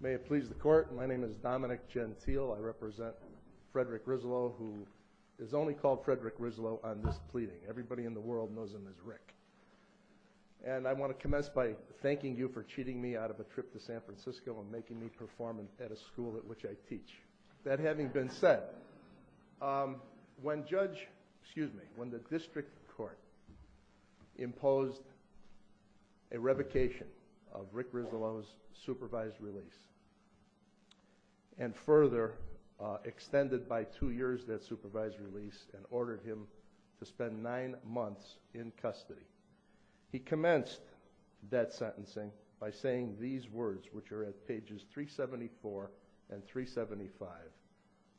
May it please the court, my name is Dominic Gentile, I represent Frederick Rizzolo, who is only called Frederick Rizzolo on this pleading. Everybody in the world knows him as Rick. And I want to commence by thanking you for cheating me out of a trip to San Francisco and making me perform at a school at which I teach. That having been said, when the district court imposed a revocation of Rick Rizzolo's supervised release and further extended by two years that supervised release and ordered him to spend nine months in custody, he commenced that sentencing by saying these words, which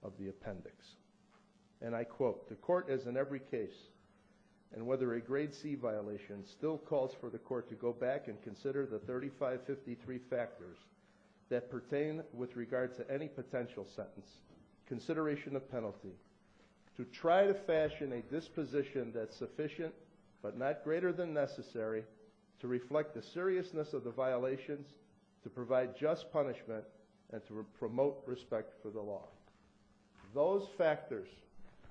of the appendix, and I quote, the court is in every case and whether a grade C violation still calls for the court to go back and consider the 3553 factors that pertain with regard to any potential sentence, consideration of penalty, to try to fashion a disposition that's sufficient but not greater than necessary to reflect the seriousness of the violations, to provide just punishment, and to promote respect for the law. Those factors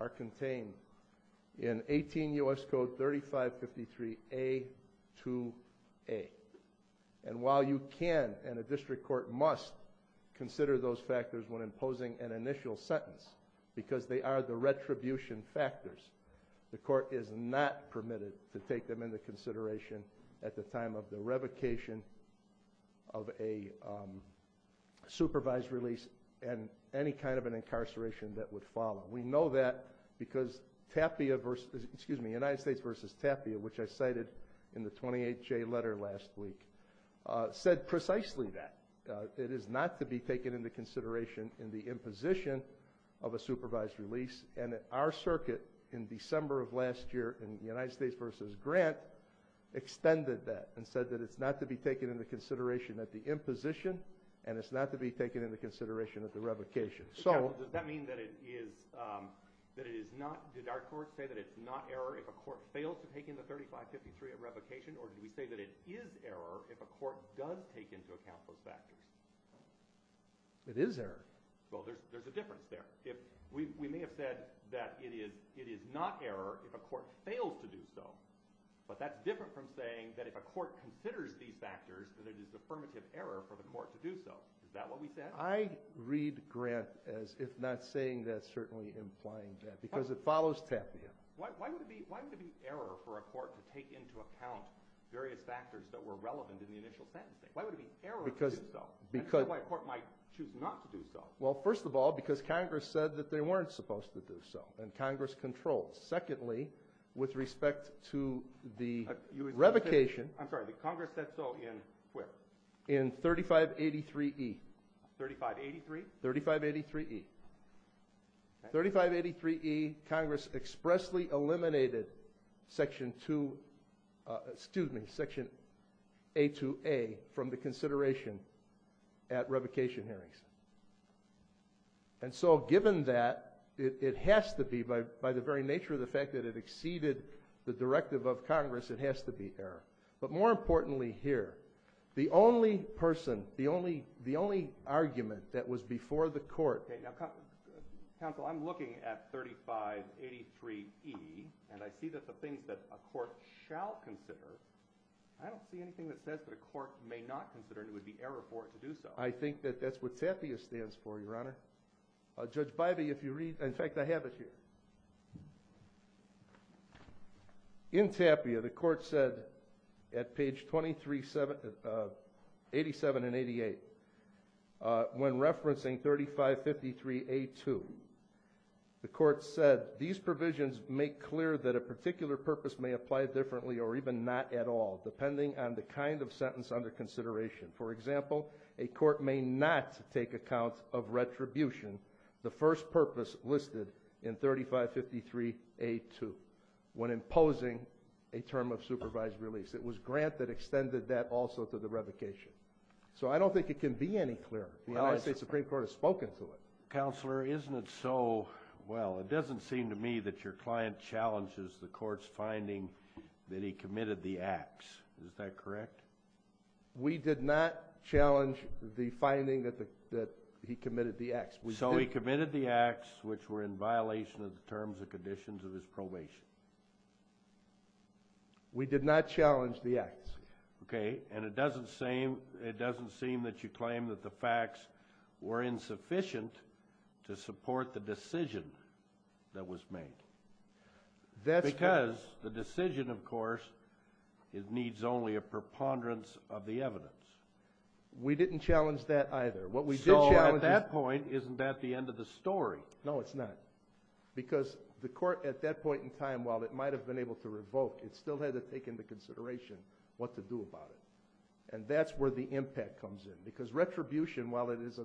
are contained in 18 U.S. Code 3553 A2A. And while you can and a district court must consider those factors when imposing an initial sentence because they are the retribution factors, the court is not permitted to take them into consideration at the time of the revocation of a supervised release and any kind of an incarceration that would follow. We know that because United States v. Tapia, which I cited in the 28-J letter last week, said precisely that. It is not to be taken into consideration in the imposition of a supervised release. And our circuit in December of last year in United States v. Grant extended that and said that it's not to be taken into consideration at the imposition and it's not to be taken into consideration at the revocation. So does that mean that it is, that it is not, did our court say that it's not error if a court failed to take in the 3553 at revocation or did we say that it is error if a court does take into account those factors? It is error. Well, there's a difference there. We may have said that it is not error if a court fails to do so, but that's different from saying that if a court considers these factors, that it is affirmative error for the court to do so. Is that what we said? I read Grant as if not saying that, certainly implying that, because it follows Tapia. Why would it be error for a court to take into account various factors that were relevant in the initial sentencing? Why would it be error to do so? Because... And why a court might choose not to do so? Well, first of all, because Congress said that they weren't supposed to do so and Congress controlled. Secondly, with respect to the revocation... I'm sorry, but Congress said so in where? In 3583E. 3583? 3583E. 3583E, Congress expressly eliminated section 2, excuse me, section A2A from the consideration at revocation hearings. And so given that, it has to be, by the very nature of the fact that it exceeded the directive of Congress, it has to be error. But more importantly here, the only person, the only argument that was before the court... Counsel, I'm looking at 3583E, and I see that the things that a court shall consider... I don't see anything that says that a court may not consider and it would be error for it to do so. I think that that's what TAPIA stands for, Your Honor. Judge Bybee, if you read... In fact, I have it here. In TAPIA, the court said at page 23... 87 and 88, when referencing 3553A2, the court said, these provisions make clear that a particular on the kind of sentence under consideration. For example, a court may not take account of retribution, the first purpose listed in 3553A2, when imposing a term of supervised release. It was Grant that extended that also to the revocation. So I don't think it can be any clearer. The United States Supreme Court has spoken to it. Counselor, isn't it so... Well, it doesn't seem to me that your client challenges the court's finding that he committed the acts. Is that correct? We did not challenge the finding that he committed the acts. So he committed the acts which were in violation of the terms and conditions of his probation. We did not challenge the acts. Okay. And it doesn't seem that you claim that the facts were insufficient to support the decision that was made. Because the decision, of course, it needs only a preponderance of the evidence. We didn't challenge that either. So at that point, isn't that the end of the story? No, it's not. Because the court, at that point in time, while it might have been able to revoke, it And that's where the impact comes in. Because retribution, while it is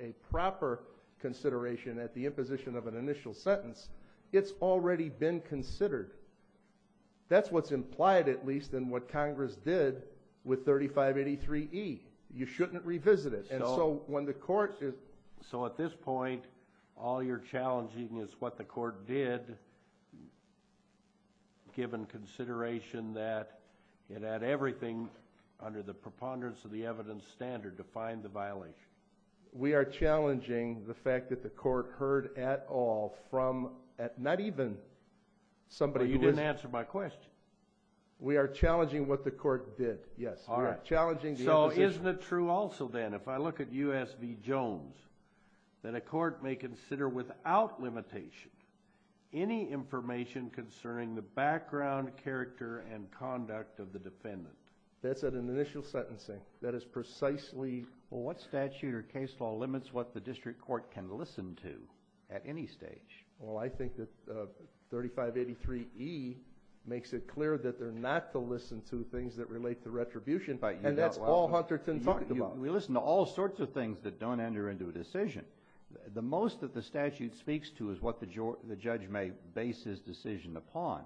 a proper consideration at the imposition of an initial sentence, it's already been considered. That's what's implied, at least, in what Congress did with 3583E. You shouldn't revisit it. And so when the court... So at this point, all you're challenging is what the court did, given consideration that it had everything under the preponderance of the evidence standard to find the violation. We are challenging the fact that the court heard at all from... Not even somebody who was... Well, you didn't answer my question. We are challenging what the court did, yes. All right. We are challenging the imposition. So isn't it true also, then, if I look at U.S. v. Jones, that a court may consider without limitation any information concerning the background, character, and conduct of the defendant? That's at an initial sentencing. That is precisely... Well, what statute or case law limits what the district court can listen to at any stage? Well, I think that 3583E makes it clear that they're not to listen to things that relate to retribution. And that's all Hunterton talked about. We listen to all sorts of things that don't enter into a decision. The most that the statute speaks to is what the judge may base his decision upon.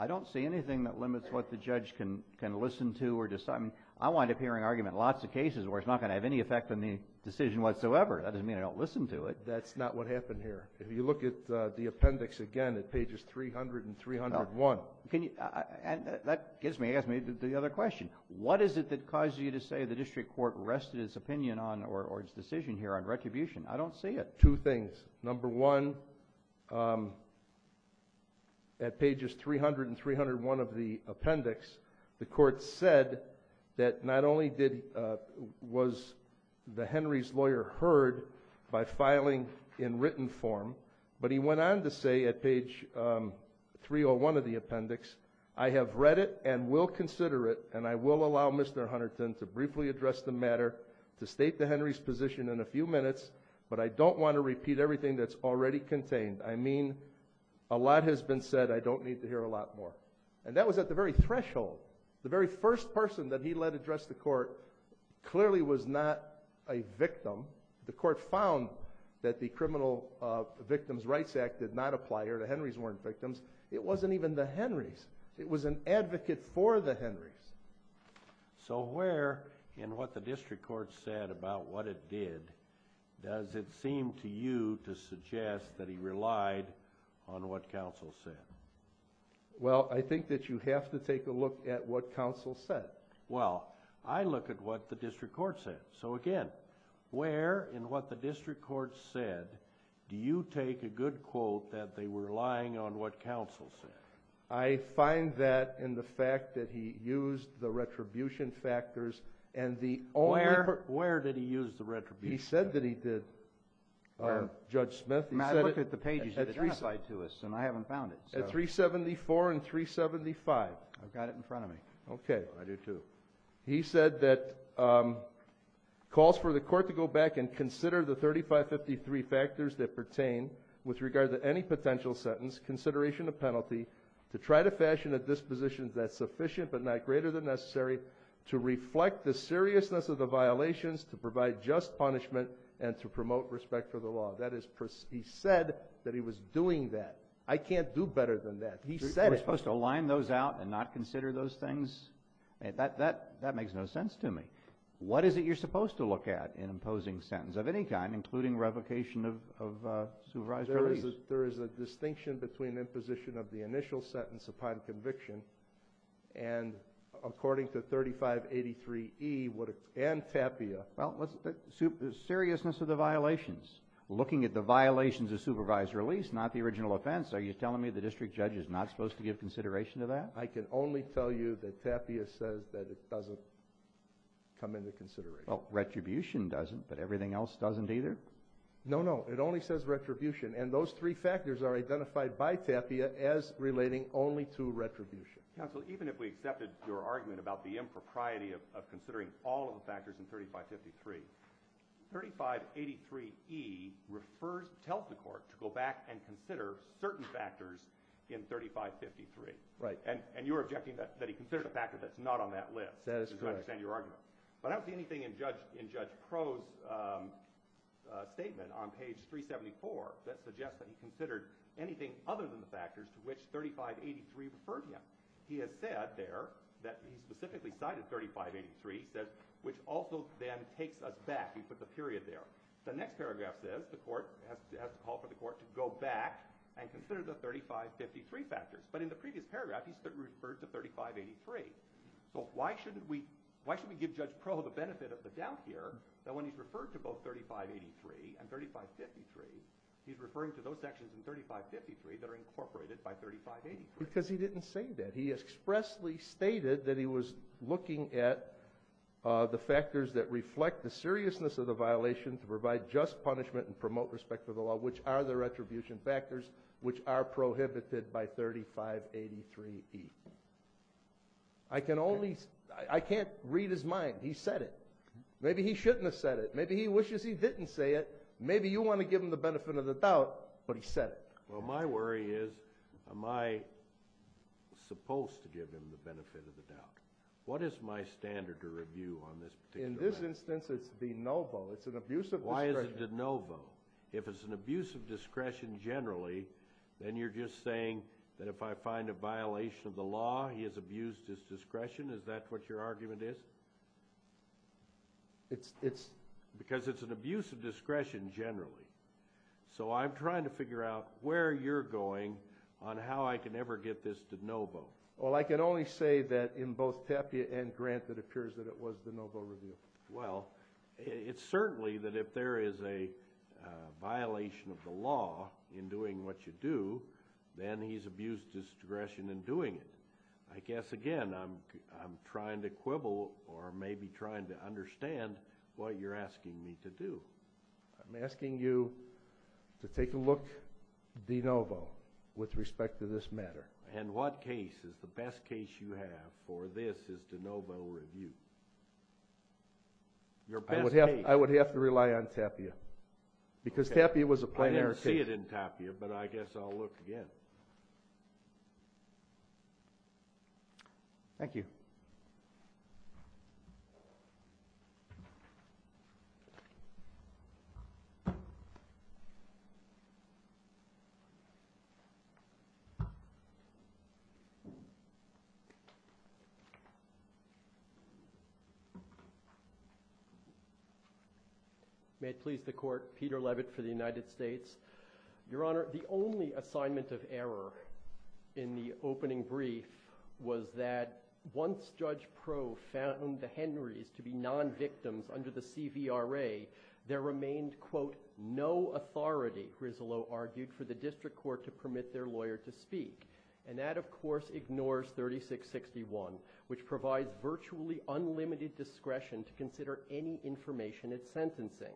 I don't see anything that limits what the judge can listen to or decide. I wind up hearing arguments in lots of cases where it's not going to have any effect on the decision whatsoever. That doesn't mean I don't listen to it. That's not what happened here. If you look at the appendix again at pages 300 and 301... Well, can you... And that gets me, asks me the other question. What is it that causes you to say the district court rested its opinion on or its decision here on retribution? I don't see it. Two things. Number one, at pages 300 and 301 of the appendix, the court said that not only was the Henry's lawyer heard by filing in written form, but he went on to say at page 301 of the appendix, I have read it and will consider it and I will allow Mr. Hunterton to briefly address the matter, to state the Henry's position in a few minutes, but I don't want to repeat everything that's already contained. I mean, a lot has been said. I don't need to hear a lot more. And that was at the very threshold. The very first person that he let address the court clearly was not a victim. The court found that the Criminal Victims' Rights Act did not apply here. The Henry's weren't victims. It wasn't even the Henry's. It was an advocate for the Henry's. So where in what the district court said about what it did, does it seem to you to suggest that he relied on what counsel said? Well, I think that you have to take a look at what counsel said. Well, I look at what the district court said. So again, where in what the district court said do you take a good quote that they were relying on what counsel said? I find that in the fact that he used the retribution factors. Where did he use the retribution factors? He said that he did, Judge Smith. I look at the pages that identify to us, and I haven't found it. At 374 and 375. I've got it in front of me. Okay. I do too. He said that calls for the court to go back and consider the 3553 factors that pertain with regard to any potential sentence, consideration of penalty, to try to fashion a disposition that's sufficient but not greater than necessary to reflect the seriousness of the violations to provide just punishment and to promote respect for the law. That is precise. He said that he was doing that. I can't do better than that. He said it. We're supposed to line those out and not consider those things? That makes no sense to me. What is it you're supposed to look at in imposing sentence of any kind, including revocation of supervised release? There is a distinction between imposition of the initial sentence upon conviction, and according to 3583E and TAPIA. Well, seriousness of the violations. Looking at the violations of supervised release, not the original offense, are you telling me the district judge is not supposed to give consideration to that? I can only tell you that TAPIA says that it doesn't come into consideration. Retribution doesn't, but everything else doesn't either? No, no. It only says retribution. And those three factors are identified by TAPIA as relating only to retribution. Counsel, even if we accepted your argument about the impropriety of considering all of the factors in 3553, 3583E tells the court to go back and consider certain factors in 3553. Right. And you're objecting that he considered a factor that's not on that list. That is correct. I understand your argument. But I don't see anything in Judge Crow's statement on page 374 that suggests that he considered anything other than the factors to which 3583 referred him. He has said there that he specifically cited 3583, which also then takes us back. He put the period there. The next paragraph says the court has to call for the court to go back and consider the 3553 factors. But in the previous paragraph, he referred to 3583. So why should we give Judge Crow the benefit of the doubt here that when he's referring to both 3583 and 3553, he's referring to those sections in 3553 that are incorporated by 3583? Because he didn't say that. He expressly stated that he was looking at the factors that reflect the seriousness of the violation to provide just punishment and promote respect for the law, which are the retribution factors, which are prohibited by 3583E. I can't read his mind. He said it. Maybe he shouldn't have said it. Maybe he wishes he didn't say it. Maybe you want to give him the benefit of the doubt, but he said it. Well, my worry is am I supposed to give him the benefit of the doubt? What is my standard to review on this particular matter? In this instance, it's de novo. It's an abuse of discretion. Why is it de novo? If it's an abuse of discretion generally, then you're just saying that if I find a violation of the law, he has abused his discretion? Is that what your argument is? Because it's an abuse of discretion generally. So I'm trying to figure out where you're going on how I can ever get this de novo. Well, I can only say that in both Pepe and Grant that it appears that it was de novo review. Well, it's certainly that if there is a violation of the law in doing what you do, then he's abused his discretion in doing it. I guess, again, I'm trying to quibble or maybe trying to understand what you're asking me to do. I'm asking you to take a look de novo with respect to this matter. And what case is the best case you have for this is de novo review? Your best case. I would have to rely on Tapia because Tapia was a plain air case. I didn't see it in Tapia, but I guess I'll look again. Thank you. May it please the court. Peter Levitt for the United States. Your Honor, the only assignment of error in the opening brief was that once Judge Pro found the Henrys to be non-victims under the CVRA, there remained, quote, no authority, Grislow argued, for the district court to permit their lawyer to speak. And that, of course, ignores 3661, which provides virtually unlimited discretion to consider any information at sentencing.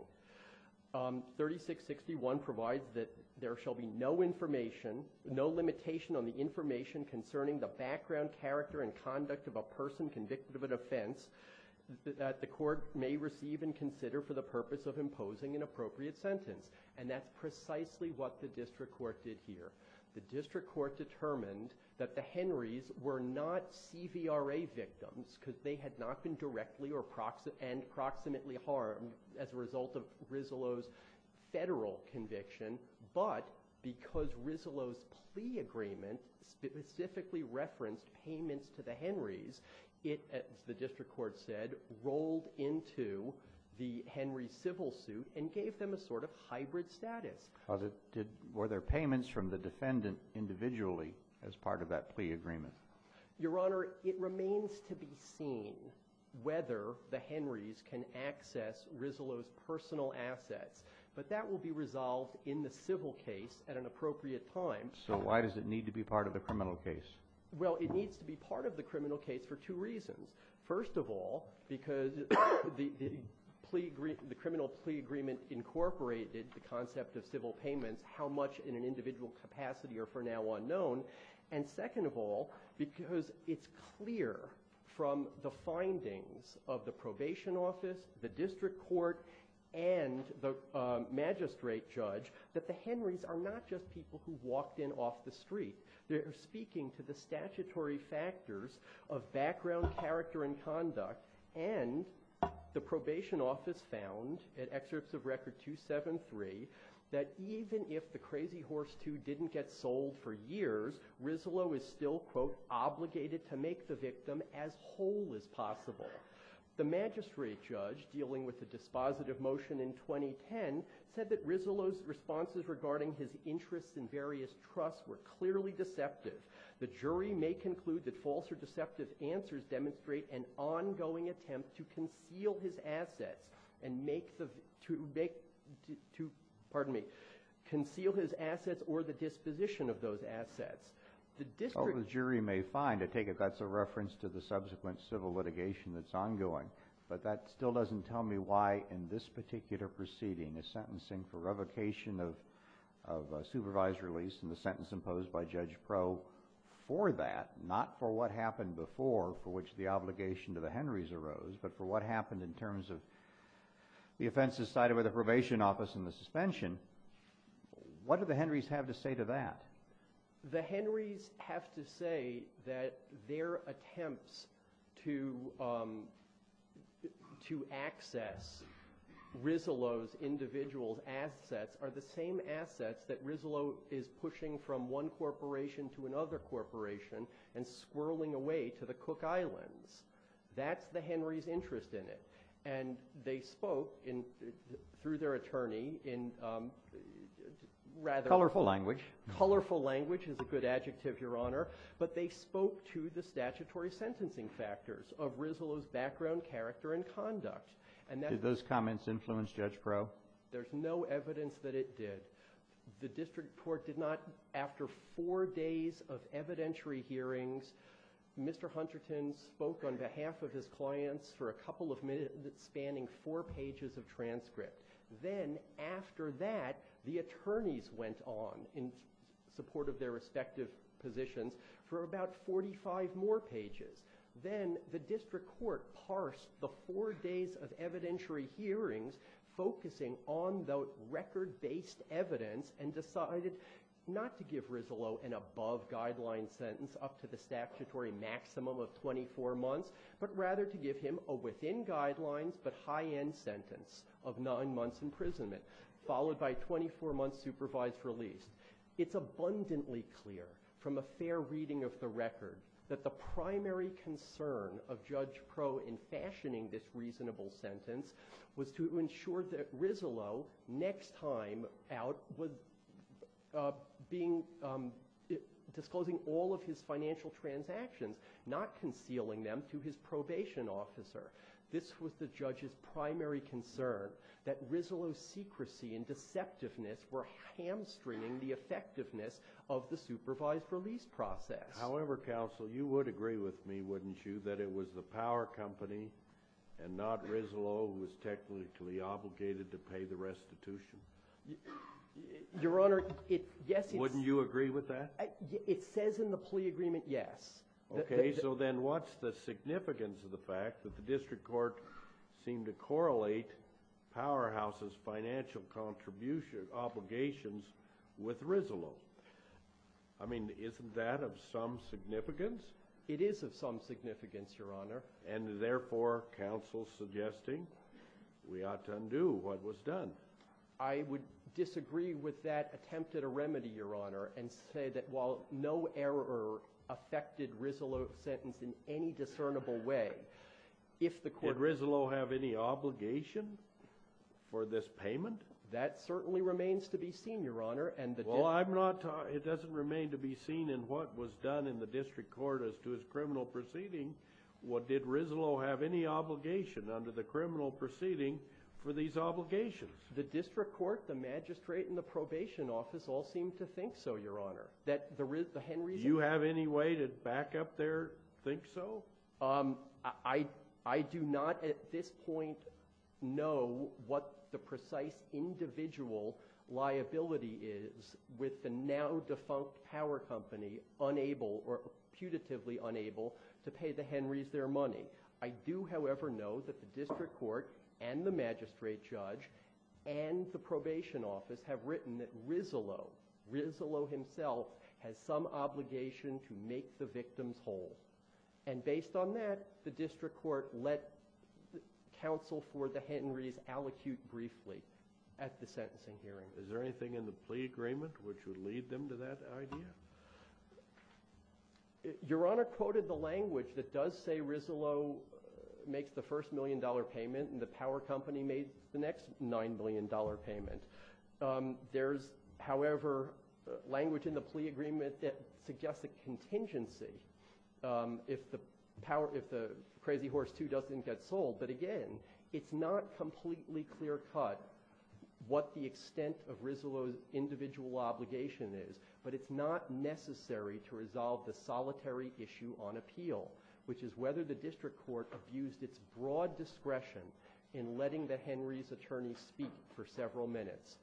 3661 provides that there shall be no information, no limitation on the information concerning the background, the purpose of imposing an appropriate sentence. And that's precisely what the district court did here. The district court determined that the Henrys were not CVRA victims because they had not been directly or approximately harmed as a result of Grislow's federal conviction. But because Grislow's plea agreement specifically referenced payments to the Henrys, it, as the district court said, rolled into the Henry civil suit and gave them a sort of hybrid status. Were there payments from the defendant individually as part of that plea agreement? Your Honor, it remains to be seen whether the Henrys can access Grislow's personal assets. But that will be resolved in the civil case at an appropriate time. So why does it need to be part of the criminal case? Well, it needs to be part of the criminal case for two reasons. First of all, because the criminal plea agreement incorporated the concept of civil payments, how much in an individual capacity are for now unknown. And second of all, because it's clear from the findings of the probation office, the district court, and the magistrate judge that the Henrys are not just people who walked in off the street. They're speaking to the statutory factors of background, character, and conduct. And the probation office found, in excerpts of Record 273, that even if the Crazy Horse II didn't get sold for years, Grislow is still, quote, obligated to make the victim as whole as possible. The magistrate judge, dealing with the dispositive motion in 2010, said that Grislow's responses regarding his interests in various trusts were clearly deceptive. The jury may conclude that false or deceptive answers demonstrate an ongoing attempt to conceal his assets or the disposition of those assets. Oh, the jury may find. I take it that's a reference to the subsequent civil litigation that's ongoing. But that still doesn't tell me why, in this particular proceeding, a sentencing for revocation of a supervised release and the sentence imposed by Judge Proe for that, not for what happened before, for which the obligation to the Henrys arose, but for what happened in terms of the offenses cited by the probation office and the suspension. What do the Henrys have to say to that? The Henrys have to say that their attempts to access Grislow's individual assets are the same assets that Grislow is pushing from one corporation to another corporation and squirreling away to the Cook Islands. That's the Henrys' interest in it. And they spoke, through their attorney, in rather— Colorful language. Colorful language is a good adjective, Your Honor. But they spoke to the statutory sentencing factors of Grislow's background, character, and conduct. Did those comments influence Judge Proe? There's no evidence that it did. The district court did not, after four days of evidentiary hearings, Mr. Hunterton spoke on behalf of his clients for a couple of minutes, spanning four pages of transcript. Then, after that, the attorneys went on, in support of their respective positions, for about 45 more pages. Then, the district court parsed the four days of evidentiary hearings, focusing on the record-based evidence, and decided not to give Grislow an above-guideline sentence up to the statutory maximum of 24 months, but rather to give him a within-guidelines but high-end sentence of nine months' imprisonment, followed by a 24-month supervised release. It's abundantly clear, from a fair reading of the record, that the primary concern of Judge Proe in fashioning this reasonable sentence was to ensure that Grislow, next time out, was disclosing all of his financial transactions, not concealing them to his probation officer. This was the judge's primary concern, that Grislow's secrecy and deceptiveness were hamstringing the effectiveness of the supervised release process. However, counsel, you would agree with me, wouldn't you, that it was the power company, and not Grislow, who was technically obligated to pay the restitution? Your Honor, yes, it's… Wouldn't you agree with that? It says in the plea agreement, yes. Okay, so then what's the significance of the fact that the district court seemed to correlate Powerhouse's financial obligations with Grislow? I mean, isn't that of some significance? It is of some significance, Your Honor. And therefore, counsel's suggesting we ought to undo what was done. I would disagree with that attempt at a remedy, Your Honor, and say that while no error affected Grislow's sentence in any discernible way, if the court… Did Grislow have any obligation for this payment? That certainly remains to be seen, Your Honor, and the district… The district court, the magistrate, and the probation office all seem to think so, Your Honor, that the Henrys… Do you have any way to back up their think-so? I do not at this point know what the precise individual liability is with the now defunct power company unable or putatively unable to pay the Henrys their money. I do, however, know that the district court and the magistrate judge and the probation office have written that Grislow, Grislow himself, has some obligation to make the victims whole. And based on that, the district court let counsel for the Henrys allocute briefly at the sentencing hearing. Is there anything in the plea agreement which would lead them to that idea? Your Honor quoted the language that does say Grislow makes the first million dollar payment and the power company made the next nine million dollar payment. There's, however, language in the plea agreement that suggests a contingency if the crazy horse two doesn't get sold. But again, it's not completely clear-cut what the extent of Grislow's individual obligation is, but it's not necessary to resolve the solitary issue on appeal, which is whether the district court abused its broad discretion in letting the Henrys' attorney speak for several minutes.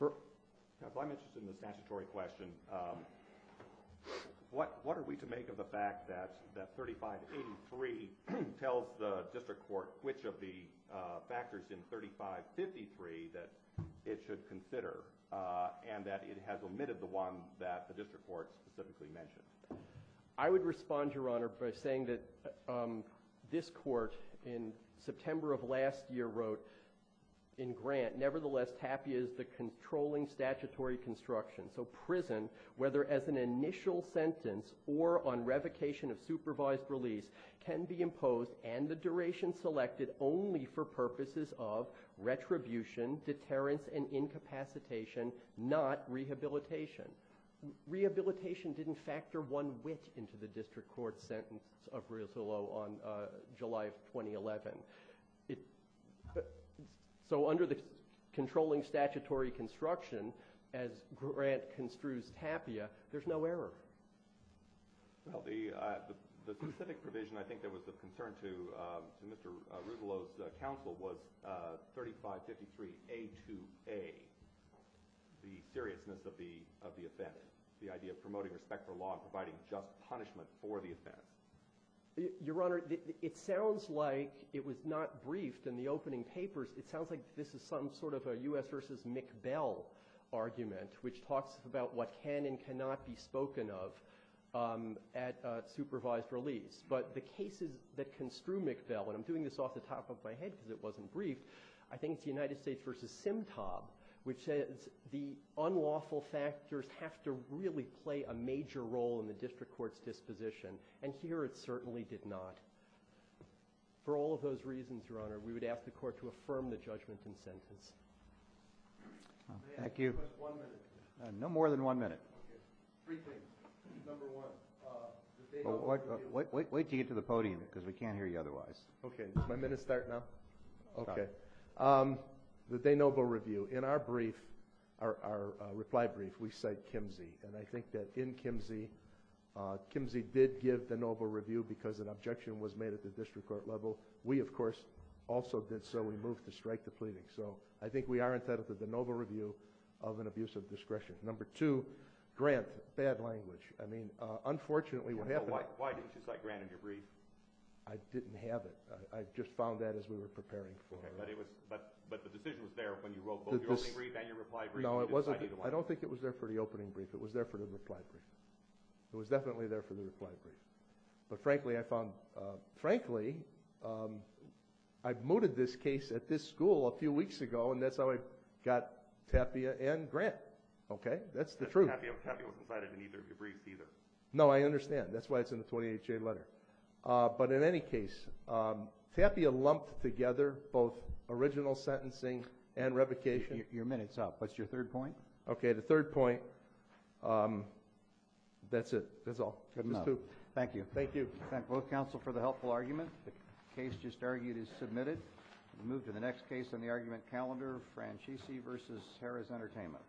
If I'm interested in the statutory question, what are we to make of the fact that 3583 tells the district court which of the factors in 3553 that it should consider and that it has omitted the one that the district court specifically mentioned? I would respond, Your Honor, by saying that this court in September of last year wrote in Grant, nevertheless, TAPIA is the controlling statutory construction. So prison, whether as an initial sentence or on revocation of supervised release, can be imposed and the duration selected only for purposes of retribution, deterrence, and incapacitation, not rehabilitation. Rehabilitation didn't factor one whit into the district court sentence of Grislow on July of 2011. So under the controlling statutory construction, as Grant construes TAPIA, there's no error. Well, the specific provision I think that was of concern to Mr. Grislow's counsel was 3553A2A, the seriousness of the offense, the idea of promoting respect for law and providing just punishment for the offense. Your Honor, it sounds like it was not briefed in the opening papers. It sounds like this is some sort of a U.S. versus McBell argument, which talks about what can and cannot be spoken of at supervised release. But the cases that construe McBell, and I'm doing this off the top of my head because it wasn't briefed, I think it's the United States versus Simtob, which says the unlawful factors have to really play a major role in the district court's disposition. And here it certainly did not. For all of those reasons, Your Honor, we would ask the court to affirm the judgment in sentence. Thank you. One minute. No more than one minute. Okay. Three things. Number one. Wait till you get to the podium because we can't hear you otherwise. Okay. Does my minute start now? Okay. The De Novo review. In our brief, our reply brief, we cite Kimsey. And I think that in Kimsey, Kimsey did give the De Novo review because an objection was made at the district court level. We, of course, also did so. We moved to strike the pleading. So I think we are entitled to the De Novo review of an abuse of discretion. Number two, Grant, bad language. I mean, unfortunately, what happened to that? Why didn't you cite Grant in your brief? I didn't have it. I just found that as we were preparing for it. But the decision was there when you wrote both your opening brief and your reply brief. No, it wasn't. I don't think it was there for the opening brief. It was there for the reply brief. It was definitely there for the reply brief. But, frankly, I found, frankly, I mooted this case at this school a few weeks ago, and that's how I got Tapia and Grant. Okay? That's the truth. Tapia wasn't cited in either of your briefs either. No, I understand. That's why it's in the 28-J letter. But in any case, Tapia lumped together both original sentencing and revocation. Your minute's up. What's your third point? Okay, the third point, that's it. That's all. Thank you. Thank you. Thank both counsel for the helpful argument. The case just argued is submitted. We'll move to the next case on the argument calendar, Franchese v. Harris Entertainment.